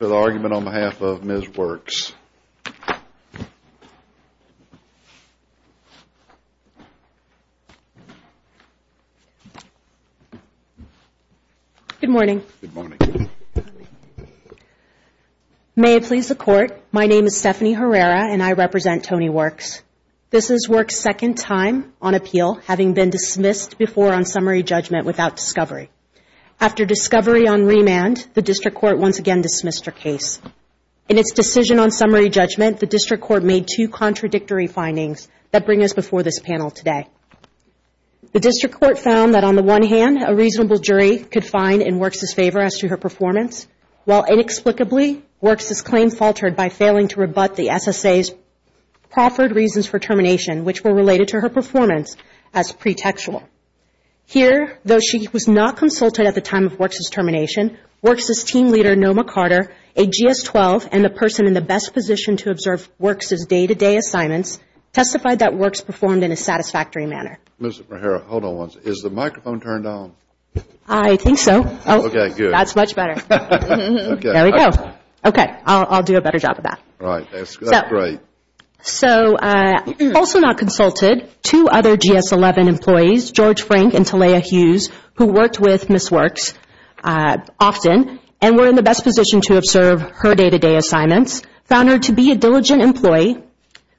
for the argument on behalf of Ms. Works. Good morning. May it please the court, my name is Stephanie Herrera and I represent Tony Works. This is Works' second time on appeal having been dismissed before on summary judgment without discovery. After discovery on remand, the district court once again dismissed her case. In its decision on summary judgment, the district court made two contradictory findings that bring us before this panel today. The district court found that on the one hand, a reasonable jury could find in Works' favor as to her performance, while inexplicably, Works' claim faltered by failing to rebut the SSA's proffered reasons for termination, which were related to her performance as pretextual. Here, though she was not consulted at the time of Works' termination, Works' team leader, Noma Carter, a GS-12 and the person in the best position to observe Works' day-to-day assignments, testified that Works performed in a satisfactory manner. Ms. Herrera, hold on one second. Is the microphone turned on? I think so. Okay, good. That's much better. There we go. Okay, I'll do a better job of that. Right, that's great. So, also not consulted, two other GS-11 employees, George Frank and Talia Hughes, who worked with Ms. Works often and were in the best position to observe her day-to-day assignments, found her to be a diligent employee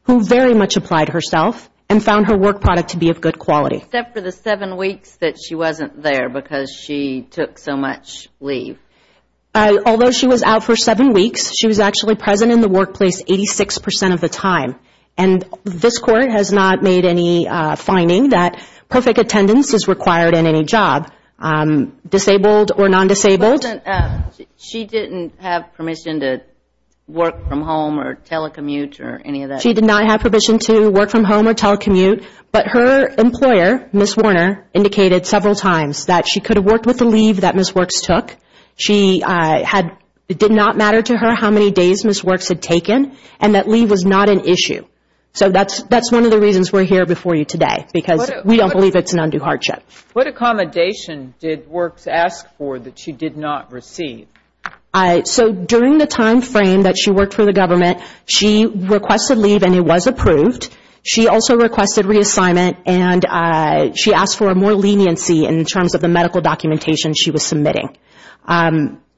who very much applied herself and found her work product to be of good quality. Except for the seven weeks that she wasn't there because she took so much leave. Although she was out for seven weeks, she was actually present in the workplace 86 percent of the time and this Court has not made any finding that perfect attendance is required in any job, disabled or non-disabled. She didn't have permission to work from home or telecommute or any of that? She did not have permission to work from home or telecommute, but her employer, Ms. Warner, indicated several times that she could have worked with the leave that Ms. Works took. She had, it did not matter to her how many days Ms. Works had taken and that leave was not an issue. So, that's one of the reasons we're here before you today because we don't believe it's an undue hardship. What accommodation did Works ask for that she did not receive? So, during the time frame that she worked for the government, she requested leave and it was approved. She also requested reassignment and she asked for more leniency in terms of the medical documentation she was submitting.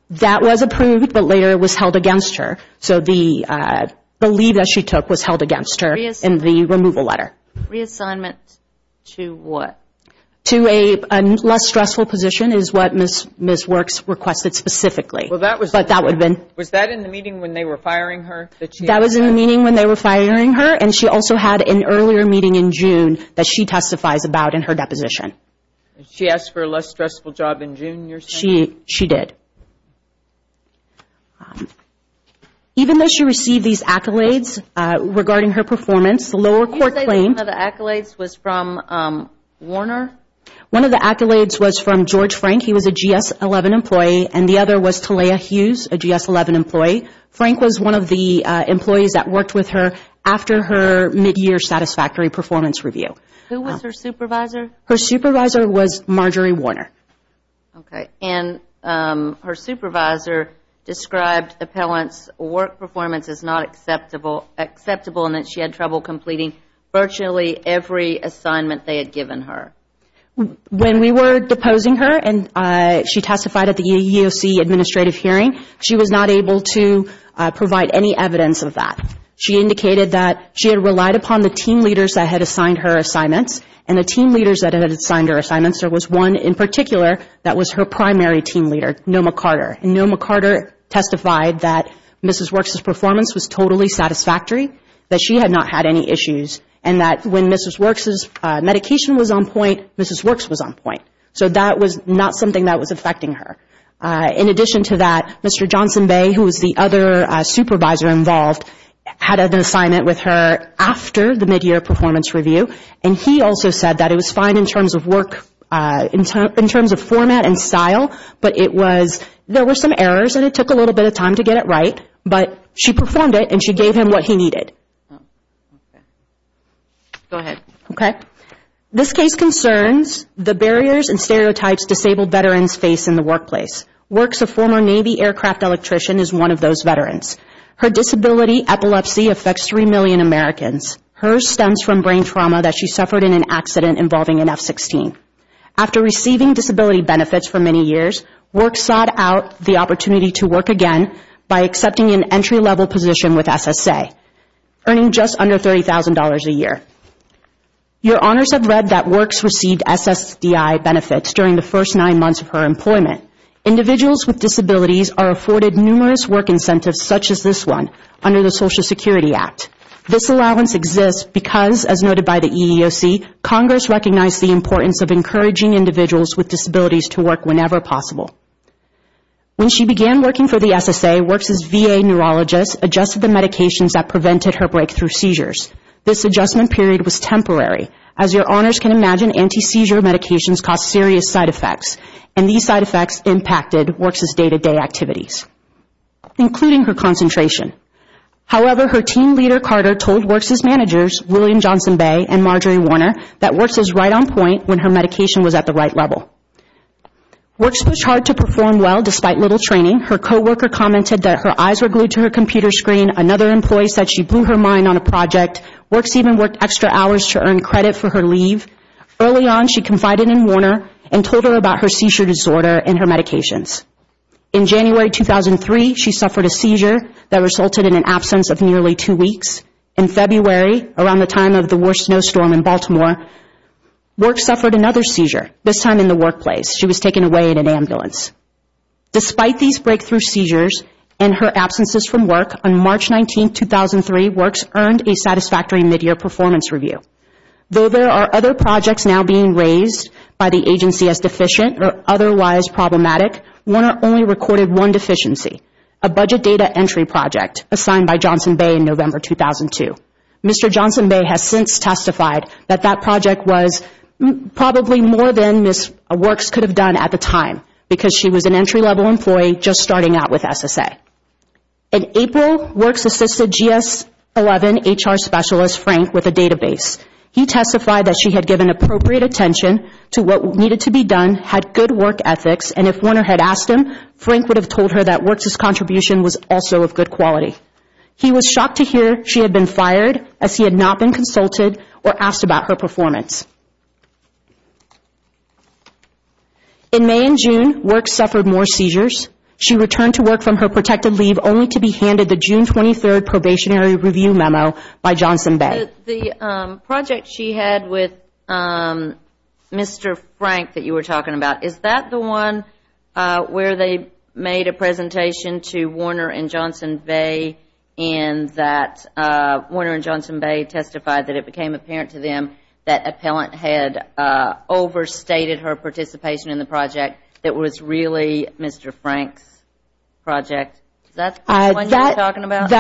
That was approved, but later it was held against her. So, the leave that she took was held against her in the removal letter. Reassignment to what? To a less stressful position is what Ms. Works requested specifically, but that would have been... Was that in the meeting when they were firing her? That was in the meeting when they were firing her and she also had an earlier meeting in June that she testifies about in her deposition. She asked for a less stressful job in June, you're saying? She did. Even though she received these accolades regarding her performance, the lower court claimed... Did you say that one of the accolades was from Warner? One of the accolades was from George Frank. He was a GS-11 employee and the other was Talia Hughes, a GS-11 employee. Frank was one of the employees that worked with her after her mid-year satisfactory performance review. Who was her supervisor? Her supervisor was Marjorie Warner. Her supervisor described the appellant's work performance as not acceptable and that she had trouble completing virtually every assignment they had given her. When we were deposing her and she testified at the EEOC administrative hearing, she was not able to provide any evidence of that. She indicated that she had relied upon the team leaders that had assigned her assignments and the team leaders that had assigned her assignments, there was one in particular that was her primary team leader, Noma Carter. Noma Carter testified that Mrs. Works' performance was totally satisfactory, that she had not had any issues and that when Mrs. Works' medication was on point, Mrs. Works was on point. So that was not something that was affecting her. In addition to that, Mr. Johnson Bay, who was the other supervisor involved, had an also said that it was fine in terms of work, in terms of format and style, but it was, there were some errors and it took a little bit of time to get it right, but she performed it and she gave him what he needed. This case concerns the barriers and stereotypes disabled veterans face in the workplace. Works, a former Navy aircraft electrician, is one of those veterans. Her disability, epilepsy, affects 3 million Americans. Hers stems from brain trauma that she suffered in an accident involving an F-16. After receiving disability benefits for many years, Works sought out the opportunity to work again by accepting an entry-level position with SSA, earning just under $30,000 a year. Your Honors have read that Works received SSDI benefits during the first nine months of her employment. Individuals with disabilities are afforded numerous work incentives such as this one under the Social Security Act. This allowance exists because, as noted by the EEOC, Congress recognized the importance of encouraging individuals with disabilities to work whenever possible. When she began working for the SSA, Works' VA neurologist adjusted the medications that prevented her breakthrough seizures. This adjustment period was temporary, as your Honors can imagine, anti-seizure medications cause serious side effects, and these side effects impacted Works' day-to-day activities, including her concentration. However, her team leader, Carter, told Works' managers, William Johnson Bay and Marjorie Warner, that Works was right on point when her medication was at the right level. Works pushed hard to perform well despite little training. Her co-worker commented that her eyes were glued to her computer screen. Another employee said she blew her mind on a project. Works even worked extra hours to earn credit for her leave. Early on, she confided in Warner and told her about her seizure disorder and her medications. In January 2003, she suffered a seizure that resulted in an absence of nearly two weeks. In February, around the time of the worst snowstorm in Baltimore, Works suffered another seizure, this time in the workplace. She was taken away in an ambulance. Despite these breakthrough seizures and her absences from work, on March 19, 2003, Works earned a satisfactory midyear performance review. Though there are other projects now being raised by the agency as deficient or otherwise problematic, Warner only recorded one deficiency, a budget data entry project assigned by Johnson Bay in November 2002. Mr. Johnson Bay has since testified that that project was probably more than Ms. Works could have done at the time because she was an entry-level employee just starting out with SSA. In April, Works assisted GS-11 HR specialist, Frank, with a database. He testified that she had given appropriate attention to what needed to be done, had good work ethics, and if Warner had asked him, Frank would have told her that Works' contribution was also of good quality. He was shocked to hear she had been fired as he had not been consulted or asked about her performance. In May and June, Works suffered more seizures. She returned to work from her protected leave only to be handed the June 23 Probationary Review Memo by Johnson Bay. The project she had with Mr. Frank that you were talking about, is that the one where they made a presentation to Warner and Johnson Bay and that Warner and Johnson Bay testified that it became apparent to them that an appellant had overstated her participation in the project that was really Mr. Frank's project? That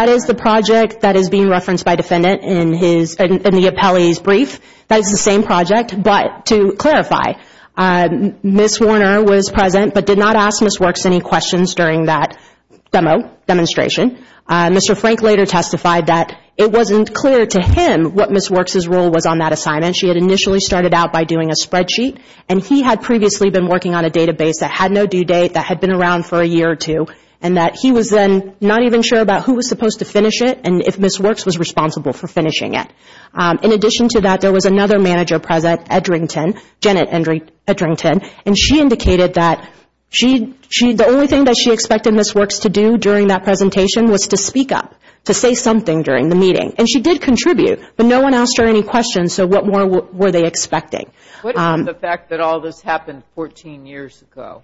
is the project that is being referenced by defendant in the appellee's brief. That is the same project, but to clarify, Ms. Warner was present but did not ask Ms. Works any questions during that demonstration. Mr. Frank later testified that it wasn't clear to him what Ms. Works' role was on that assignment. She had initially started out by doing a spreadsheet and he had previously been working on a database that had no due date, that had been around for a year or two, and that he was then not even sure about who was supposed to finish it and if Ms. Works was responsible for finishing it. In addition to that, there was another manager present at Drinkton, Janet Edrington, and she indicated that the only thing that she expected Ms. Works to do during that presentation was to speak up, to say something during the meeting. She did contribute, but no one asked her any questions, so what more were they expecting? What about the fact that all this happened 14 years ago?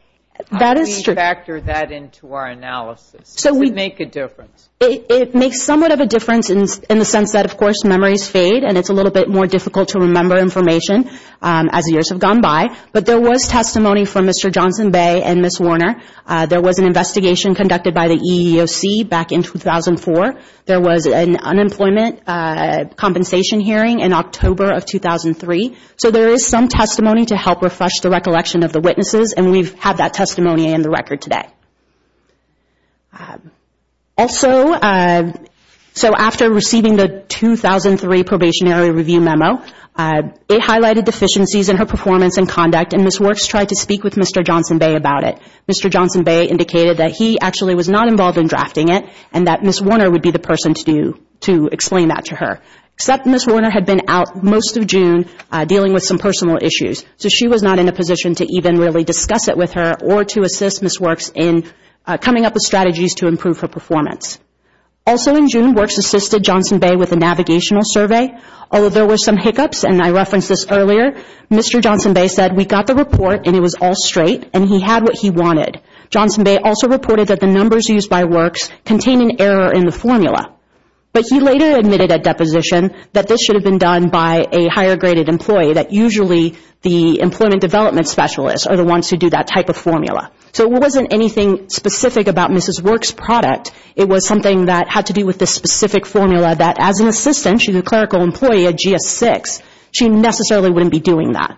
That is true. How do we factor that into our analysis? Does it make a difference? It makes somewhat of a difference in the sense that, of course, memories fade and it's a little bit more difficult to remember information as years have gone by, but there was testimony from Mr. Johnson Bay and Ms. Warner. There was an investigation conducted by the EEOC back in 2004. There was an unemployment compensation hearing in October of 2003. There is some testimony to help refresh the recollection of the witnesses, and we have that testimony in the record today. After receiving the 2003 Probationary Review Memo, it highlighted deficiencies in her performance and conduct, and Ms. Works tried to speak with Mr. Johnson Bay about it. Mr. Johnson Bay indicated that he actually was not involved in drafting it and that Ms. Warner would be the person to explain that to her, except Ms. Warner had been out most of June dealing with some personal issues, so she was not in a position to even really discuss it with her or to assist Ms. Works in coming up with strategies to improve her performance. Also, in June, Works assisted Johnson Bay with a navigational survey, although there were some hiccups, and I referenced this earlier. Mr. Johnson Bay said, we got the report, and it was all straight, and he had what he wanted. Johnson Bay also reported that the numbers used by Works contain an error in the formula, but he later admitted at deposition that this should have been done by a higher-graded employee, that usually the employment development specialists are the ones who do that type of formula. So it wasn't anything specific about Ms. Works' product. It was something that had to do with the specific formula that, as an assistant, she's a clerical employee at GS-6, she necessarily wouldn't be doing that.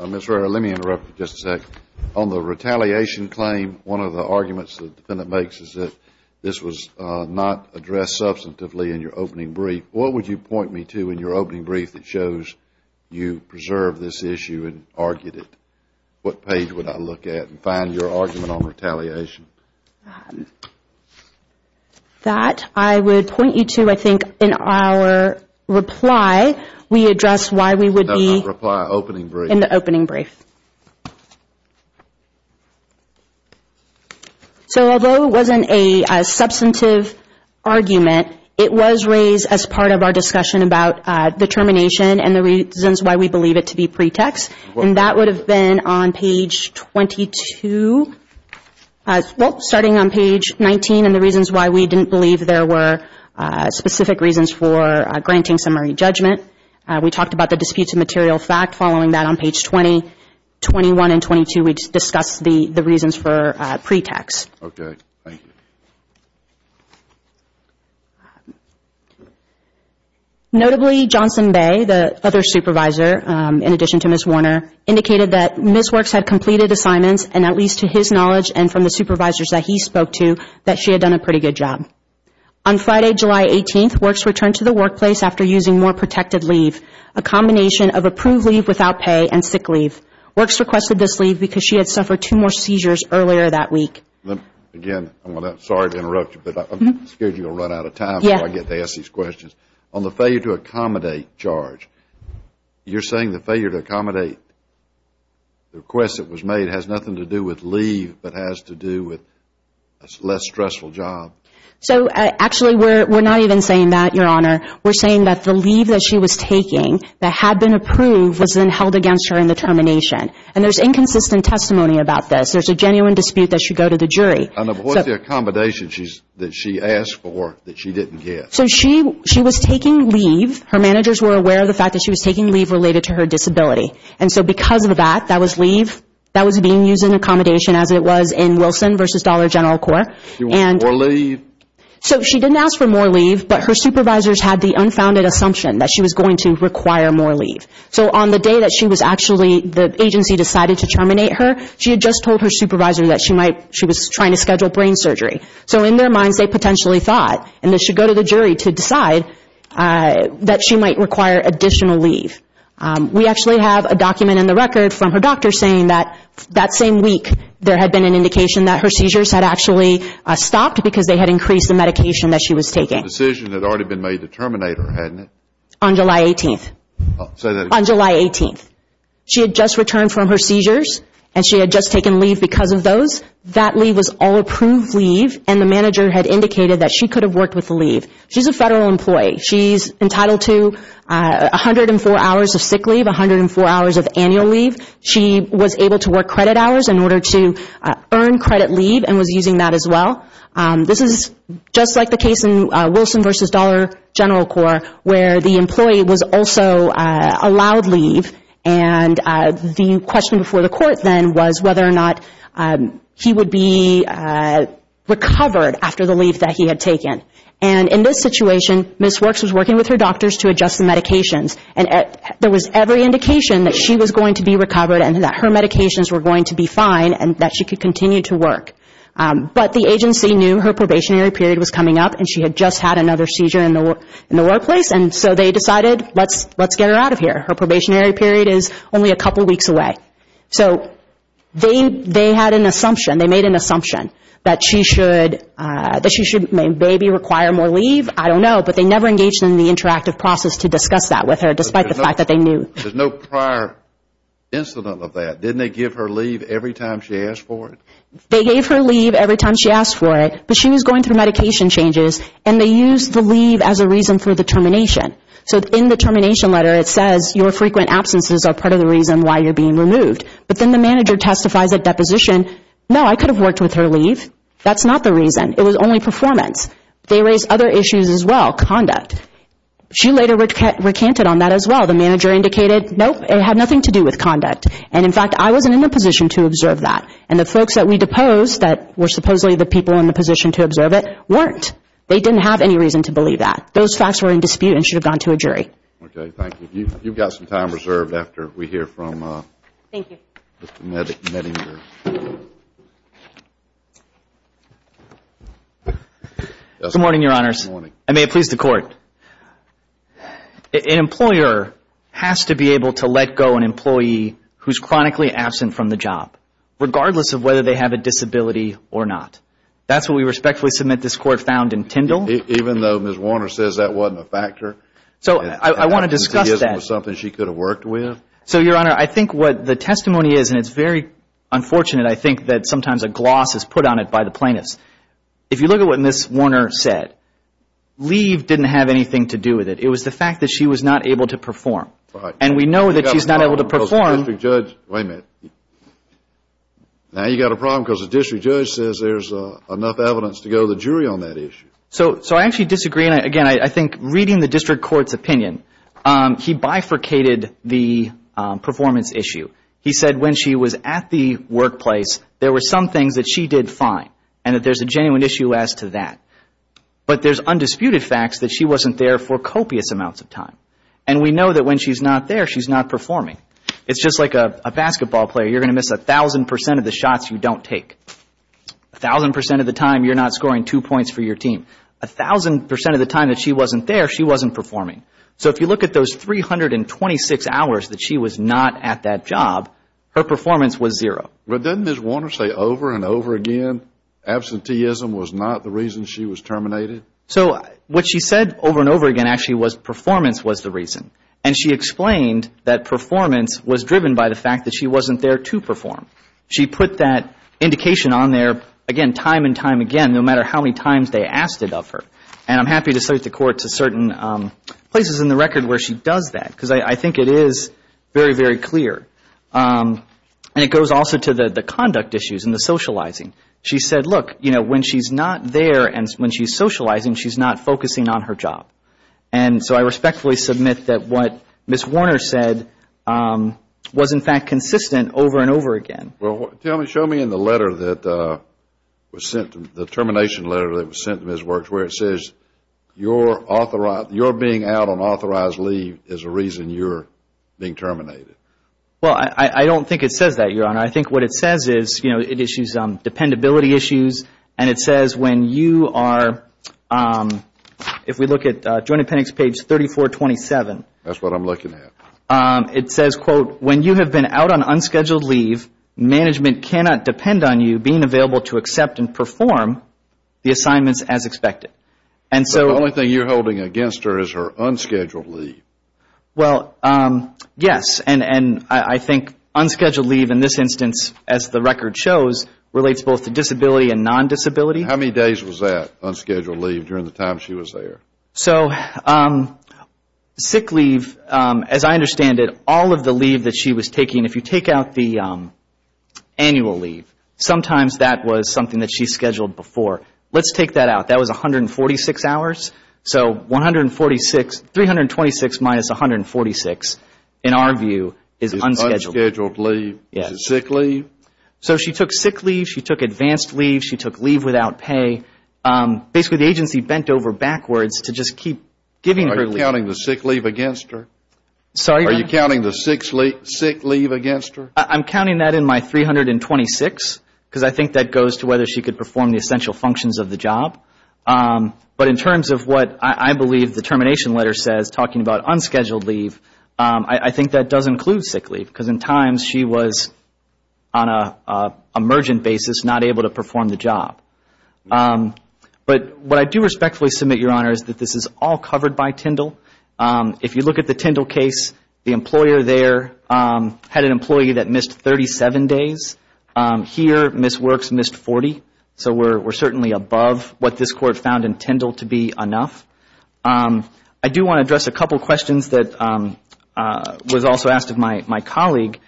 Ms. Rara, let me interrupt you just a second. On the retaliation claim, one of the arguments the defendant makes is that this was not addressed substantively in your opening brief. What would you point me to in your opening brief that shows you preserved this issue and argued it? What page would I look at and find your argument on retaliation? That I would point you to, I think, in our reply, we address why we would be in the opening brief. So although it wasn't a substantive argument, it was raised as part of our discussion about determination and the reasons why we believe it to be pretext, and that would have been on page 22, starting on page 19, and the reasons why we didn't believe there were specific reasons for granting summary judgment. We talked about the disputes of material fact, following that on page 20, 21, and 22, we discussed the reasons for pretext. Notably Johnson Bay, the other supervisor, in addition to Ms. Warner, indicated that Ms. Works had completed assignments, and at least to his knowledge and from the supervisors that he spoke to, that she had done a pretty good job. On Friday, July 18th, Works returned to the workplace after using more protected leave, a combination of approved leave without pay and sick leave. Works requested this leave because she had suffered two more seizures earlier that week. Again, I'm sorry to interrupt you, but I'm scared you'll run out of time before I get to ask these questions. On the failure to accommodate charge, you're saying the failure to accommodate the request that was made has nothing to do with leave but has to do with a less stressful job? So actually, we're not even saying that, Your Honor. We're saying that the leave that she was taking that had been approved was then held against her in the termination, and there's inconsistent testimony about this. There's a genuine dispute that should go to the jury. I know, but what's the accommodation that she asked for that she didn't get? So she was taking leave. Her managers were aware of the fact that she was taking leave related to her disability, and so because of that, that was leave that was being used in accommodation as it was in Wilson v. Dollar General Corp. More leave? So she didn't ask for more leave, but her supervisors had the unfounded assumption that she was going to require more leave. So on the day that she was actually, the agency decided to terminate her, she had just told her supervisor that she might, she was trying to schedule brain surgery. So in their minds, they potentially thought, and this should go to the jury, to decide that she might require additional leave. We actually have a document in the record from her doctor saying that that same week, there had been an indication that her seizures had actually stopped because they had increased the medication that she was taking. But the decision had already been made to terminate her, hadn't it? On July 18th. Say that again. On July 18th. She had just returned from her seizures, and she had just taken leave because of those. That leave was all approved leave, and the manager had indicated that she could have worked with the leave. She's a federal employee. She's entitled to 104 hours of sick leave, 104 hours of annual leave. She was able to work credit hours in order to earn credit leave and was using that as well. This is just like the case in Wilson v. Dollar General Corp., where the employee was also allowed leave, and the question before the court then was whether or not he would be recovered after the leave that he had taken. In this situation, Ms. Works was working with her doctors to adjust the medications, and there was every indication that she was going to be recovered and that her medications were going to be fine and that she could continue to work. But the agency knew her probationary period was coming up, and she had just had another seizure in the workplace, and so they decided, let's get her out of here. Her probationary period is only a couple weeks away. So they had an assumption, they made an assumption that she should maybe require more leave. I don't know, but they never engaged in the interactive process to discuss that with her, despite the fact that they knew. There's no prior incident of that. Didn't they give her leave every time she asked for it? They gave her leave every time she asked for it, but she was going through medication changes, and they used the leave as a reason for the termination. So in the termination letter, it says, your frequent absences are part of the reason why you're being removed. But then the manager testifies at deposition, no, I could have worked with her leave. That's not the reason. It was only performance. They raised other issues as well, conduct. She later recanted on that as well. The manager indicated, nope, it had nothing to do with conduct. And in fact, I wasn't in a position to observe that. And the folks that we deposed that were supposedly the people in the position to observe it weren't. They didn't have any reason to believe that. Those facts were in dispute and should have gone to a jury. Okay. Thank you. Ms. Warner, you've got some time reserved after we hear from Mr. Nettinger. Good morning, Your Honors. I may have pleased the Court. An employer has to be able to let go an employee who's chronically absent from the job, regardless of whether they have a disability or not. That's what we respectfully submit this Court found in Tyndall. Even though Ms. Warner says that wasn't a factor. So I want to discuss that. It wasn't something she could have worked with? So Your Honor, I think what the testimony is, and it's very unfortunate, I think that sometimes a gloss is put on it by the plaintiffs. If you look at what Ms. Warner said, leave didn't have anything to do with it. It was the fact that she was not able to perform. And we know that she's not able to perform. Wait a minute. Now you've got a problem because the district judge says there's enough evidence to go to the jury on that issue. So I actually disagree. And again, I think reading the district court's opinion, he bifurcated the performance issue. He said when she was at the workplace, there were some things that she did fine. And that there's a genuine issue as to that. But there's undisputed facts that she wasn't there for copious amounts of time. And we know that when she's not there, she's not performing. It's just like a basketball player, you're going to miss a thousand percent of the shots you don't take. A thousand percent of the time, you're not scoring two points for your team. A thousand percent of the time that she wasn't there, she wasn't performing. So if you look at those 326 hours that she was not at that job, her performance was zero. But doesn't Ms. Warner say over and over again, absenteeism was not the reason she was terminated? So what she said over and over again actually was performance was the reason. And she explained that performance was driven by the fact that she wasn't there to perform. She put that indication on there, again, time and time again, no matter how many times they asked it of her. And I'm happy to cite the court to certain places in the record where she does that because I think it is very, very clear. And it goes also to the conduct issues and the socializing. She said, look, you know, when she's not there and when she's socializing, she's not focusing on her job. And so I respectfully submit that what Ms. Warner said was, in fact, consistent over and over again. Well, tell me, show me in the letter that was sent, the termination letter that was sent to Ms. Works where it says, you're being out on authorized leave is a reason you're being terminated. Well, I don't think it says that, Your Honor. I think what it says is, you know, it issues dependability issues. And it says when you are, if we look at Joint Appendix page 3427. That's what I'm looking at. It says, quote, when you have been out on unscheduled leave, management cannot depend on you being available to accept and perform the assignments as expected. And so. The only thing you're holding against her is her unscheduled leave. Well, yes. And I think unscheduled leave in this instance, as the record shows, relates both to disability and non-disability. How many days was that unscheduled leave during the time she was there? So sick leave, as I understand it, all of the leave that she was taking, if you take out the annual leave, sometimes that was something that she scheduled before. Let's take that out. That was 146 hours. So 146, 326 minus 146, in our view, is unscheduled. Unscheduled leave. Yes. Sick leave. So she took sick leave. She took advanced leave. She took leave without pay. Basically, the agency bent over backwards to just keep giving her leave. Are you counting the sick leave against her? Sorry? Are you counting the sick leave against her? I'm counting that in my 326, because I think that goes to whether she could perform the essential functions of the job. But in terms of what I believe the termination letter says, talking about unscheduled leave, I think that does include sick leave, because in times she was on an emergent basis not able to perform the job. But what I do respectfully submit, Your Honor, is that this is all covered by Tyndall. If you look at the Tyndall case, the employer there had an employee that missed 37 days. Here, Ms. Works missed 40. So we're certainly above what this Court found in Tyndall to be enough. I do want to address a couple of questions that was also asked of my colleague.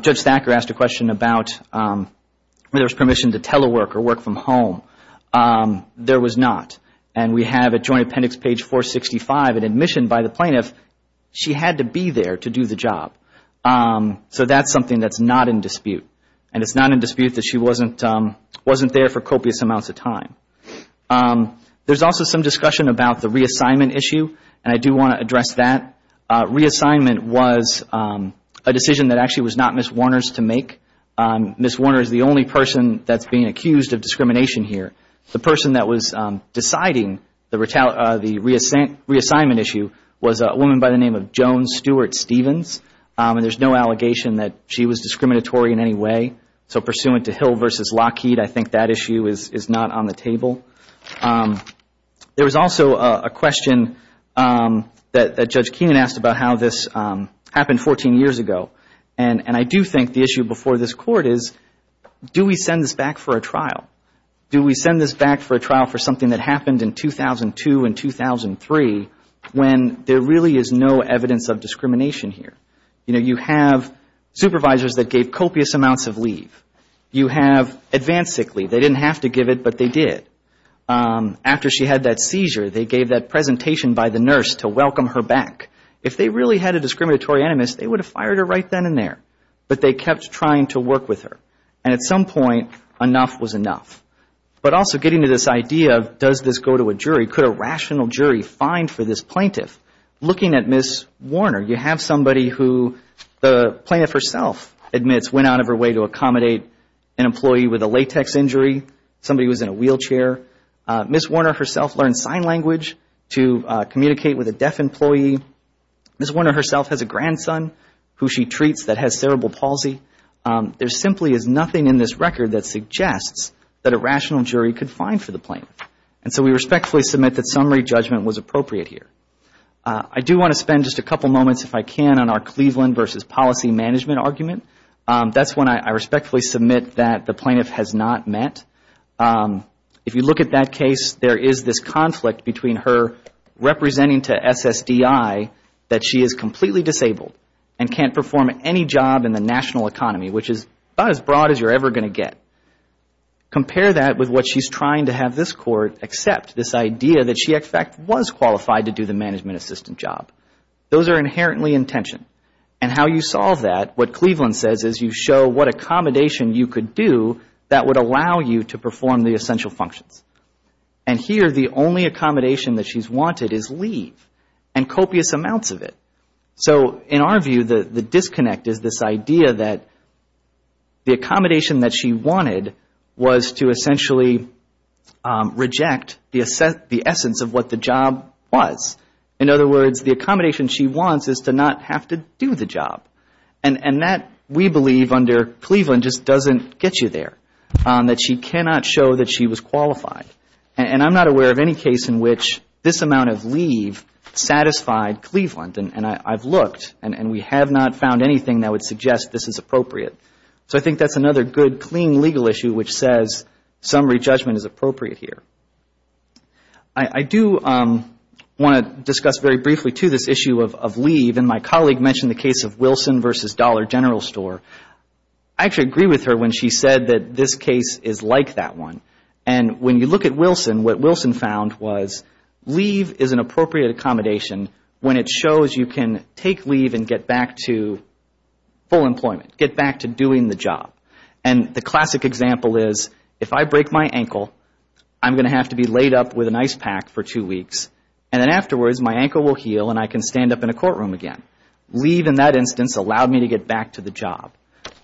Judge Thacker asked a question about whether there was permission to telework or work from home. There was not. And we have at Joint Appendix page 465, an admission by the plaintiff, she had to be there to do the job. So that's something that's not in dispute. And it's not in dispute that she wasn't there for copious amounts of time. There's also some discussion about the reassignment issue, and I do want to address that. Reassignment was a decision that actually was not Ms. Warner's to make. Ms. Warner is the only person that's being accused of discrimination here. The person that was deciding the reassignment issue was a woman by the name of Joan Stewart-Stevens. There's no allegation that she was discriminatory in any way. So pursuant to Hill v. Lockheed, I think that issue is not on the table. There was also a question that Judge Keenan asked about how this happened 14 years ago. And I do think the issue before this Court is, do we send this back for a trial? Do we send this back for a trial for something that happened in 2002 and 2003 when there really is no evidence of discrimination here? You know, you have supervisors that gave copious amounts of leave. You have advanced sick leave. They didn't have to give it, but they did. After she had that seizure, they gave that presentation by the nurse to welcome her back. If they really had a discriminatory animus, they would have fired her right then and there. But they kept trying to work with her. And at some point, enough was enough. But also getting to this idea of does this go to a jury? Could a rational jury find for this plaintiff? Looking at Ms. Warner, you have somebody who the plaintiff herself admits went out of her way to accommodate an employee with a latex injury, somebody who was in a wheelchair. Ms. Warner herself learned sign language to communicate with a deaf employee. Ms. Warner herself has a grandson who she treats that has cerebral palsy. There simply is nothing in this record that suggests that a rational jury could find for the plaintiff. And so we respectfully submit that summary judgment was appropriate here. I do want to spend just a couple moments, if I can, on our Cleveland versus policy management argument. That's one I respectfully submit that the plaintiff has not met. If you look at that case, there is this conflict between her representing to SSDI that she is completely disabled and can't perform any job in the national economy, which is about as broad as you're ever going to get. Compare that with what she's trying to have this Court accept, this idea that she in fact was qualified to do the management assistant job. Those are inherently in tension. And how you solve that, what Cleveland says, is you show what accommodation you could do that would allow you to perform the essential functions. And here the only accommodation that she's wanted is leave and copious amounts of it. So in our view, the disconnect is this idea that the accommodation that she wanted was to essentially reject the essence of what the job was. In other words, the accommodation she wants is to not have to do the job. And that, we believe, under Cleveland just doesn't get you there, that she cannot show that she was qualified. And I'm not aware of any case in which this amount of leave satisfied Cleveland. And I've looked, and we have not found anything that would suggest this is appropriate. So I think that's another good, clean legal issue which says summary judgment is appropriate here. I do want to discuss very briefly, too, this issue of leave. And my colleague mentioned the case of Wilson v. Dollar General Store. I actually agree with her when she said that this case is like that one. And when you look at Wilson, what Wilson found was leave is an appropriate accommodation when it shows you can take leave and get back to full employment, get back to doing the job. And the classic example is, if I break my ankle, I'm going to have to be laid up with an ice pack for two weeks, and then afterwards, my ankle will heal and I can stand up in a courtroom again. Leave in that instance allowed me to get back to the job.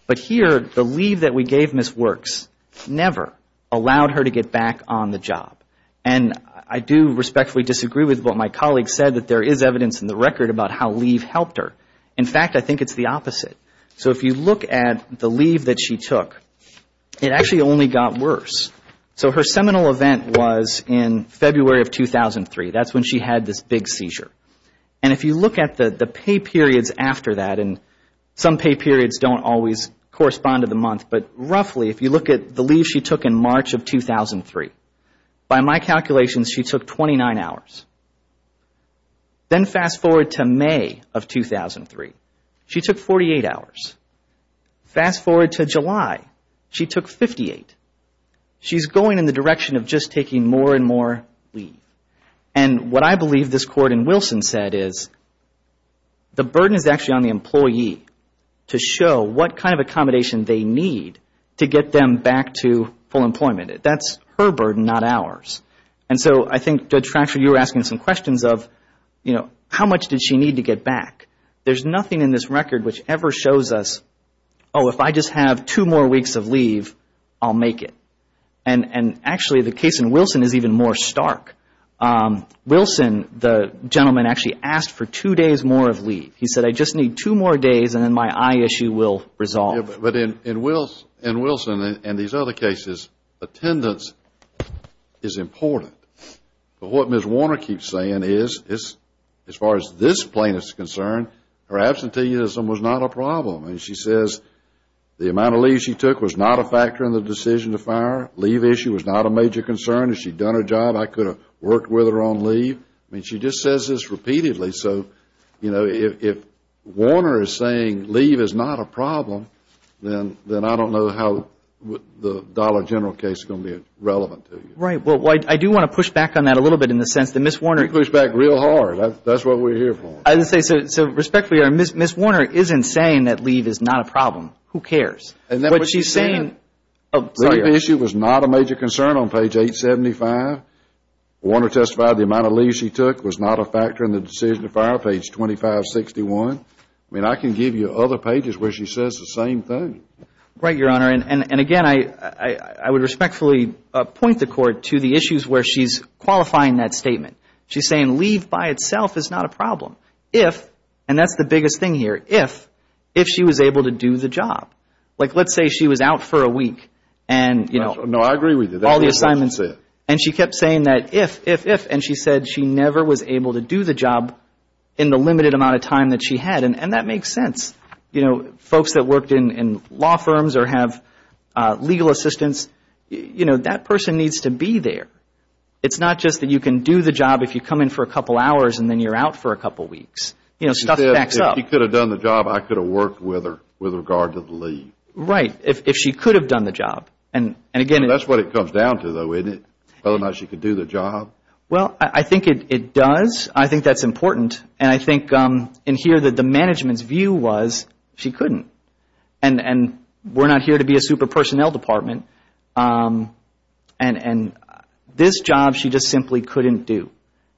But here, the leave that we gave Ms. Works never allowed her to get back on the job. And I do respectfully disagree with what my colleague said, that there is evidence in the record about how leave helped her. In fact, I think it's the opposite. So if you look at the leave that she took, it actually only got worse. So her seminal event was in February of 2003. That's when she had this big seizure. And if you look at the pay periods after that, and some pay periods don't always correspond to the month, but roughly if you look at the leave she took in March of 2003, by my calculations she took 29 hours. Then fast forward to May of 2003. She took 48 hours. Fast forward to July. She took 58. She's going in the direction of just taking more and more leave. And what I believe this court in Wilson said is the burden is actually on the employee to show what kind of accommodation they need to get them back to full employment. That's her burden, not ours. And so I think Judge Fracture, you were asking some questions of, you know, how much did she need to get back? There's nothing in this record which ever shows us, oh, if I just have two more weeks of leave, I'll make it. And actually the case in Wilson is even more stark. Wilson, the gentleman, actually asked for two days more of leave. He said, I just need two more days and then my eye issue will resolve. But in Wilson and these other cases, attendance is important. But what Ms. Warner keeps saying is, as far as this plaintiff is concerned, her absenteeism was not a problem. I mean, she says the amount of leave she took was not a factor in the decision to fire. Leave issue was not a major concern. If she'd done her job, I could have worked with her on leave. I mean, she just says this repeatedly. So, you know, if Warner is saying leave is not a problem, then I don't know how the Dollar General case is going to be relevant to you. Right. Well, I do want to push back on that a little bit in the sense that Ms. Warner You push back real hard. That's what we're here for. I was going to say, so respectfully, Ms. Warner isn't saying that leave is not a problem. Who cares? But she's saying Leave issue was not a major concern on page 875. Warner testified the amount of leave she took was not a factor in the decision to fire, page 2561. I mean, I can give you other pages where she says the same thing. Right, Your Honor. And, again, I would respectfully point the Court to the issues where she's qualifying that statement. She's saying leave by itself is not a problem if, and that's the biggest thing here, if she was able to do the job. Like let's say she was out for a week and, you know, all the assignments and she kept saying that if, if, if, and she said she never was able to do the job in the limited amount of time that she had. And that makes sense. You know, folks that worked in, in law firms or have legal assistants, you know, that person needs to be there. It's not just that you can do the job if you come in for a couple hours and then you're out for a couple weeks. You know, stuff backs up. She said if she could have done the job, I could have worked with her with regard to the leave. Right. If, if she could have done the job. And, and, again, That's what it comes down to, though, isn't it, whether or not she could do the job? Well, I think it, it does. I think that's important. And I think in here that the management's view was she couldn't and, and we're not here to be a super personnel department and, and this job she just simply couldn't do.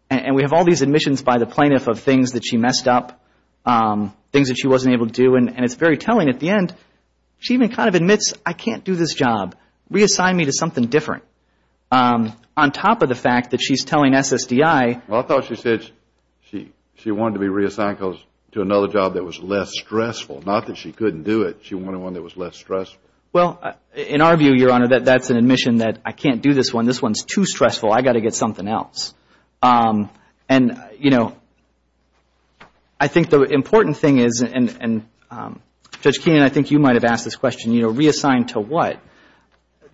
And we have all these admissions by the plaintiff of things that she messed up, things that she wasn't able to do. And, and it's very telling at the end. She even kind of admits, I can't do this job. Reassign me to something different. On top of the fact that she's telling SSDI. Well, I thought she said she, she wanted to be reassigned to another job that was less stressful. Not that she couldn't do it. She wanted one that was less stressful. Well, in our view, Your Honor, that, that's an admission that I can't do this one. This one's too stressful. I got to get something else. And, you know, I think the important thing is, and, and Judge Keenan, I think you might have asked this question, you know, reassign to what?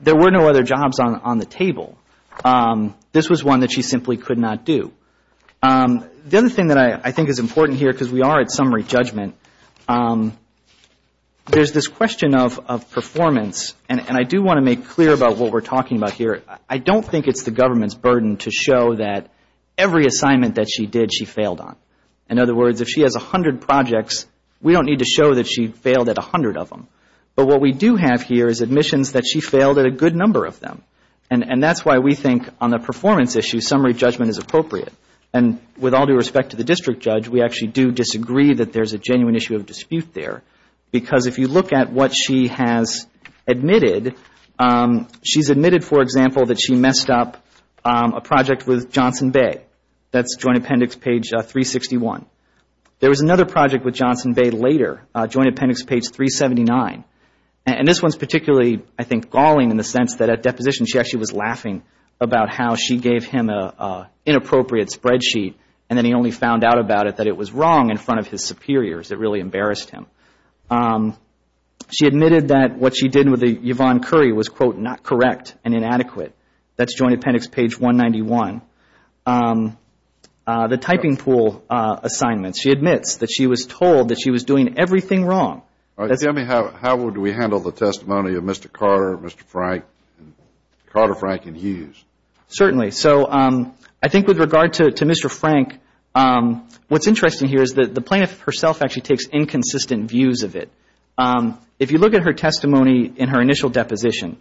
There were no other jobs on, on the table. This was one that she simply could not do. The other thing that I, I think is important here, because we are at summary judgment, there's this question of, of performance. And, and I do want to make clear about what we're talking about here. I don't think it's the government's burden to show that every assignment that she did, she failed on. In other words, if she has a hundred projects, we don't need to show that she failed at a hundred of them. But what we do have here is admissions that she failed at a good number of them. And that's why we think on the performance issue, summary judgment is appropriate. And with all due respect to the District Judge, we actually do disagree that there's a genuine issue of dispute there. Because if you look at what she has admitted, she's admitted, for example, that she messed up a project with Johnson Bay. That's Joint Appendix page 361. There was another project with Johnson Bay later, Joint Appendix page 379. And this one is particularly, I think, galling in the sense that at deposition, she actually was laughing about how she gave him an inappropriate spreadsheet. And then he only found out about it that it was wrong in front of his superiors that really embarrassed him. She admitted that what she did with Yvonne Curry was, quote, not correct and inadequate. That's Joint Appendix page 191. The typing pool assignments, she admits that she was told that she was doing everything wrong. All right. Tell me how do we handle the testimony of Mr. Carter, Mr. Frank, Carter, Frank, and Hughes? Certainly. So I think with regard to Mr. Frank, what's interesting here is that the plaintiff herself actually takes inconsistent views of it. If you look at her testimony in her initial deposition,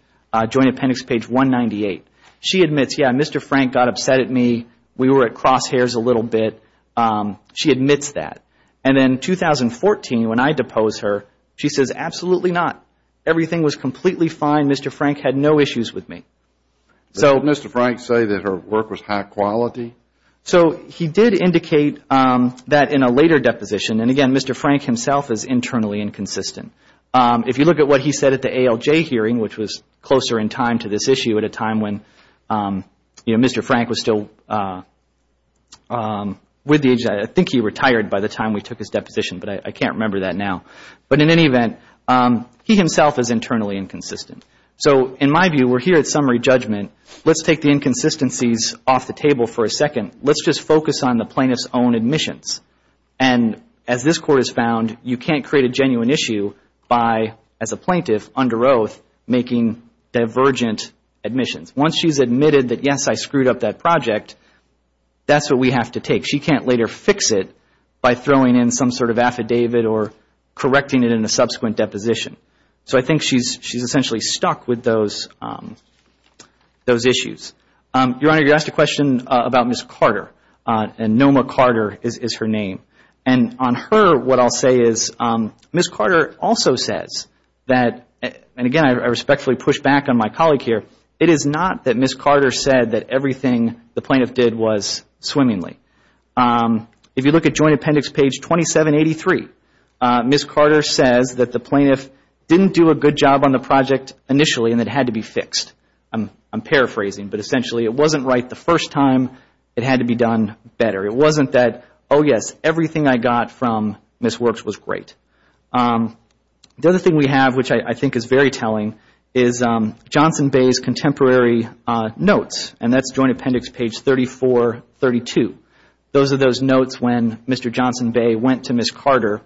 Joint Appendix page 198, she admits, yeah, Mr. Frank got upset at me. We were at crosshairs a little bit. She admits that. And then 2014, when I depose her, she says, absolutely not. Everything was completely fine. Mr. Frank had no issues with me. So did Mr. Frank say that her work was high quality? So he did indicate that in a later deposition. And again, Mr. Frank himself is internally inconsistent. If you look at what he said at the ALJ hearing, which was closer in time to this issue at the time when Mr. Frank was still with the agency, I think he retired by the time we took his deposition, but I can't remember that now. But in any event, he himself is internally inconsistent. So in my view, we're here at summary judgment. Let's take the inconsistencies off the table for a second. Let's just focus on the plaintiff's own admissions. And as this Court has found, you can't create a genuine issue by, as a plaintiff under oath, making divergent admissions. Once she's admitted that, yes, I screwed up that project, that's what we have to take. She can't later fix it by throwing in some sort of affidavit or correcting it in a subsequent deposition. So I think she's essentially stuck with those issues. Your Honor, you asked a question about Ms. Carter, and Noma Carter is her name. And on her, what I'll say is Ms. Carter also says that, and again, I respectfully push back on my colleague here, it is not that Ms. Carter said that everything the plaintiff did was swimmingly. If you look at Joint Appendix page 2783, Ms. Carter says that the plaintiff didn't do a good job on the project initially and it had to be fixed. I'm paraphrasing, but essentially it wasn't right the first time. It had to be done better. It wasn't that, oh, yes, everything I got from Ms. Works was great. The other thing we have, which I think is very telling, is Johnson Bay's contemporary notes, and that's Joint Appendix page 3432. Those are those notes when Mr. Johnson Bay went to Ms. Carter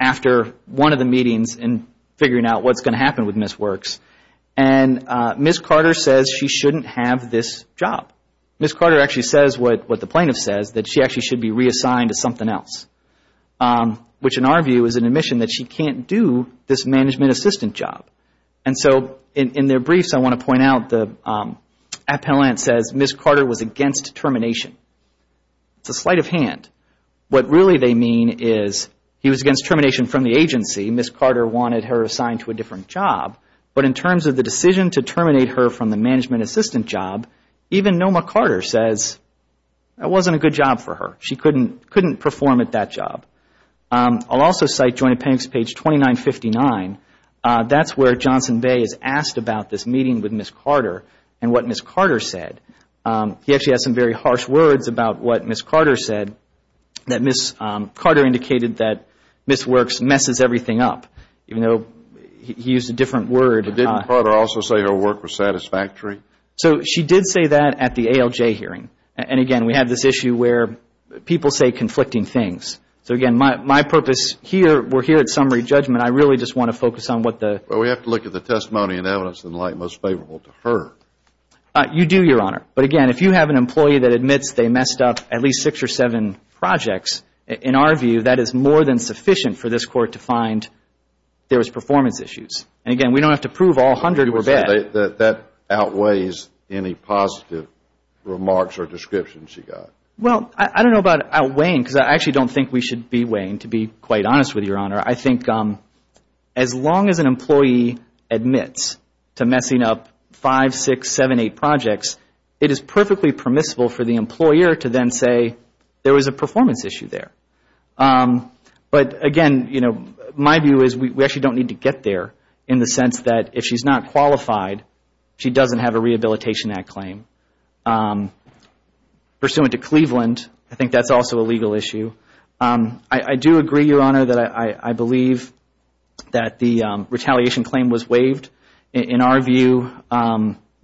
after one of the meetings in figuring out what's going to happen with Ms. Works. And Ms. Carter says she shouldn't have this job. Ms. Carter actually says what the plaintiff says, that she actually should be reassigned to something else, which in our view is an admission that she can't do this management assistant job. And so in their briefs, I want to point out the appellant says Ms. Carter was against termination. It's a sleight of hand. What really they mean is he was against termination from the agency. Ms. Carter wanted her assigned to a different job, but in terms of the decision to terminate her from the management assistant job, even Noma Carter says it wasn't a good job for her. She couldn't perform at that job. I'll also cite Joint Appendix page 2959. That's where Johnson Bay is asked about this meeting with Ms. Carter and what Ms. Carter said. He actually has some very harsh words about what Ms. Carter said, that Ms. Carter indicated that Ms. Works messes everything up, even though he used a different word. But didn't Carter also say her work was satisfactory? So she did say that at the ALJ hearing. And again, we have this issue where people say conflicting things. So again, my purpose here, we're here at summary judgment. I really just want to focus on what the. Well, we have to look at the testimony and evidence in light most favorable to her. You do, Your Honor. But again, if you have an employee that admits they messed up at least six or seven projects, in our view, that is more than sufficient for this court to find there was performance issues. And again, we don't have to prove all 100 were bad. That outweighs any positive remarks or description she got. Well, I don't know about outweighing, because I actually don't think we should be weighing, to be quite honest with you, Your Honor. I think as long as an employee admits to messing up five, six, seven, eight projects, it is perfectly permissible for the employer to then say there was a performance issue there. But again, you know, my view is we actually don't need to get there in the sense that if she's not qualified, she doesn't have a Rehabilitation Act claim. Pursuant to Cleveland, I think that's also a legal issue. I do agree, Your Honor, that I believe that the retaliation claim was waived. In our view,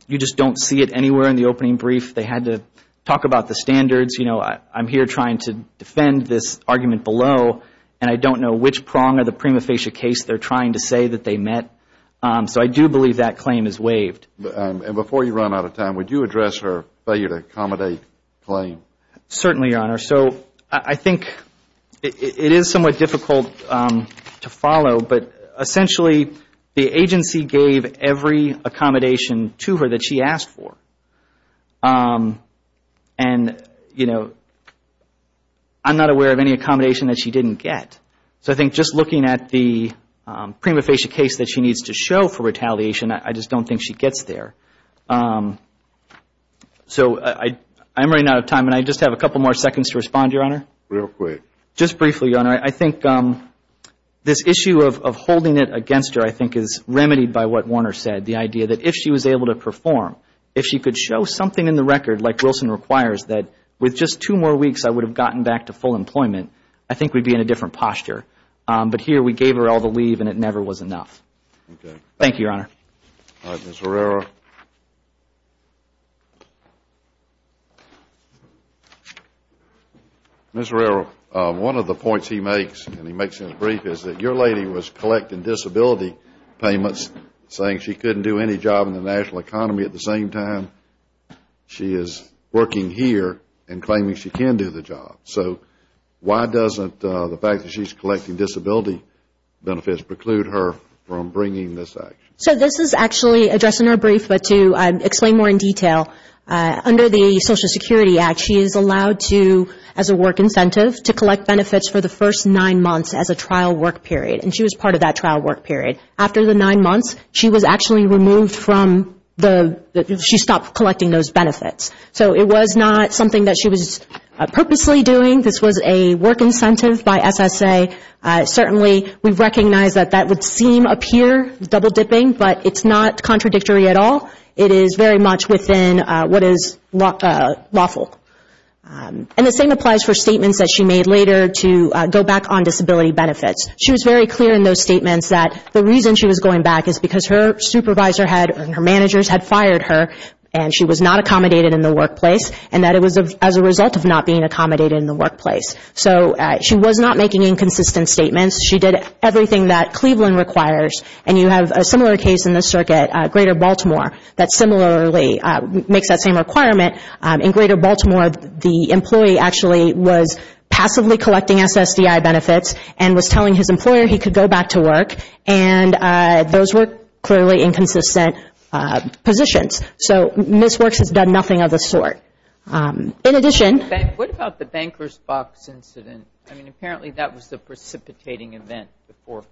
you just don't see it anywhere in the opening brief. They had to talk about the standards. You know, I'm here trying to defend this argument below, and I don't know which prong of the prima facie case they're trying to say that they met. So I do believe that claim is waived. And before you run out of time, would you address her failure to accommodate claim? Certainly, Your Honor. So I think it is somewhat difficult to follow. But essentially, the agency gave every accommodation to her that she asked for. And, you know, I'm not aware of any accommodation that she didn't get. So I think just looking at the prima facie case that she needs to show for retaliation, I just don't think she gets there. So I'm running out of time, and I just have a couple more seconds to respond, Your Honor. Real quick. Just briefly, Your Honor, I think this issue of holding it against her, I think, is remedied by what Warner said, the idea that if she was able to perform, if she could show something in the record, like Wilson requires, that with just two more weeks, I would have gotten back to full employment, I think we'd be in a different posture. But here, we gave her all the leave, and it never was enough. Okay. Thank you, Your Honor. All right, Ms. Herrera. Ms. Herrera, one of the points he makes, and he makes in his brief, is that your lady was collecting disability payments, saying she couldn't do any job in the national economy. At the same time, she is working here and claiming she can do the job. So why doesn't the fact that she's collecting disability benefits preclude her from bringing this action? So this is actually addressed in her brief, but to explain more in detail, under the Social Security Act, she is allowed to, as a work incentive, to collect benefits for the first nine months as a trial work period. And she was part of that trial work period. After the nine months, she was actually removed from the, she stopped collecting those benefits. So it was not something that she was purposely doing. This was a work incentive by SSA. Certainly, we recognize that that would seem appear double-dipping, but it's not contradictory at all. It is very much within what is lawful. And the same applies for statements that she made later to go back on disability benefits. She was very clear in those statements that the reason she was going back is because her supervisor had, her managers had fired her, and she was not accommodated in the workplace, and that it was as a result of not being accommodated in the workplace. So she was not making inconsistent statements. She did everything that Cleveland requires. And you have a similar case in the circuit, Greater Baltimore, that similarly makes that same requirement. In Greater Baltimore, the employee actually was passively collecting SSDI benefits and was telling his employer he could go back to work, and those were clearly inconsistent positions. So Ms. Works has done nothing of the sort. In addition... What about the Bankers Box incident? I mean, apparently that was the precipitating event before.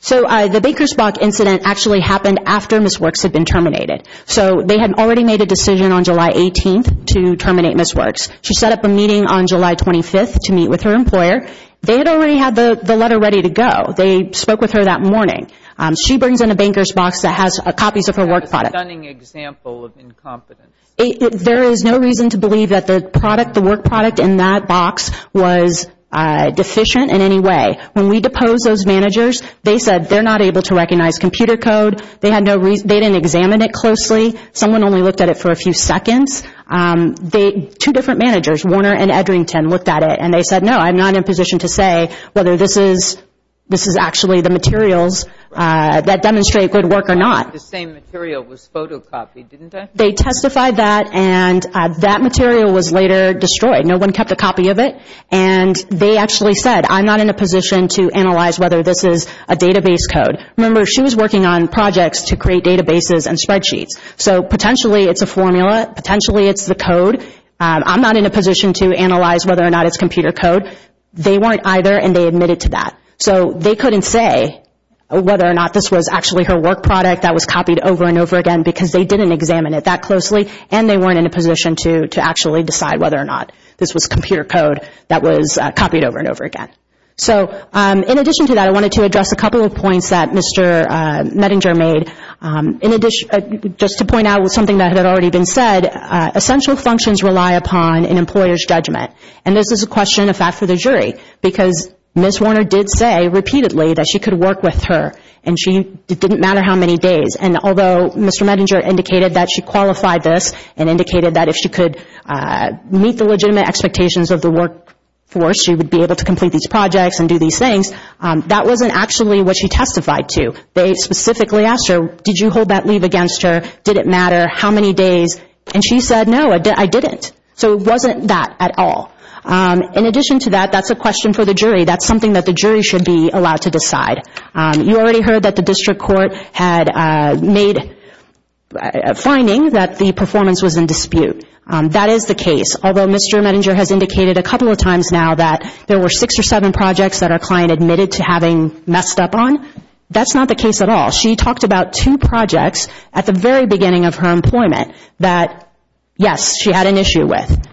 So the Bankers Box incident actually happened after Ms. Works had been terminated. So they had already made a decision on July 18th to terminate Ms. Works. She set up a meeting on July 25th to meet with her employer. They had already had the letter ready to go. They spoke with her that morning. She brings in a Bankers Box that has copies of her work product. A stunning example of incompetence. There is no reason to believe that the product, the work product in that box was deficient in any way. When we deposed those managers, they said they're not able to recognize computer code. They had no reason, they didn't examine it closely. Someone only looked at it for a few seconds. Two different managers, Warner and Edrington, looked at it, and they said, no, I'm not in a position to say whether this is actually the materials that demonstrate good work or not. The same material was photocopied, didn't it? They testified that, and that material was later destroyed. No one kept a copy of it. And they actually said, I'm not in a position to analyze whether this is a database code. Remember, she was working on projects to create databases and spreadsheets. Potentially, it's the code. I'm not in a position to analyze whether or not it's computer code. They weren't either, and they admitted to that. So they couldn't say whether or not this was actually her work product that was copied over and over again, because they didn't examine it that closely, and they weren't in a position to actually decide whether or not this was computer code that was copied over and over again. So, in addition to that, I wanted to address a couple of points that Mr. Mettinger made. Just to point out something that had already been said, essential functions rely upon an employer's judgment. And this is a question of fact for the jury, because Ms. Warner did say repeatedly that she could work with her, and it didn't matter how many days. And although Mr. Mettinger indicated that she qualified this and indicated that if she could meet the legitimate expectations of the workforce, she would be able to complete these projects and do these things, that wasn't actually what she testified to. They specifically asked her, did you hold that leave against her? Did it matter how many days? And she said, no, I didn't. So it wasn't that at all. In addition to that, that's a question for the jury. That's something that the jury should be allowed to decide. You already heard that the district court had made a finding that the performance was in dispute. That is the case. Although Mr. Mettinger has indicated a couple of times now that there were six or seven projects that our client admitted to having messed up on, that's not the case at all. She talked about two projects at the very beginning of her employment that, yes, she had an issue with.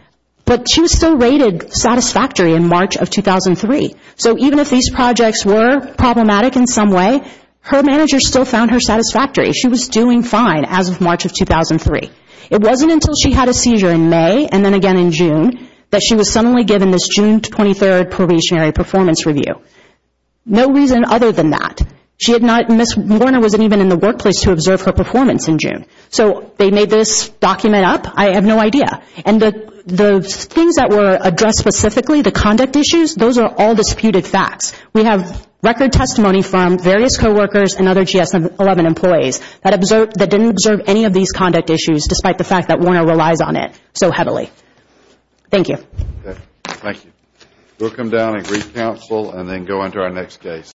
But she was still rated satisfactory in March of 2003. So even if these projects were problematic in some way, her manager still found her satisfactory. She was doing fine as of March of 2003. It wasn't until she had a seizure in May and then again in June that she was suddenly given this June 23rd probationary performance review. No reason other than that. She had not, Ms. Warner wasn't even in the workplace to observe her performance in June. So they made this document up? I have no idea. And the things that were addressed specifically, the conduct issues, those are all disputed facts. We have record testimony from various co-workers and other GS-11 employees that didn't observe any of these conduct issues despite the fact that Warner relies on it so heavily. Thank you. Thank you. We'll come down and reconcile and then go on to our next case.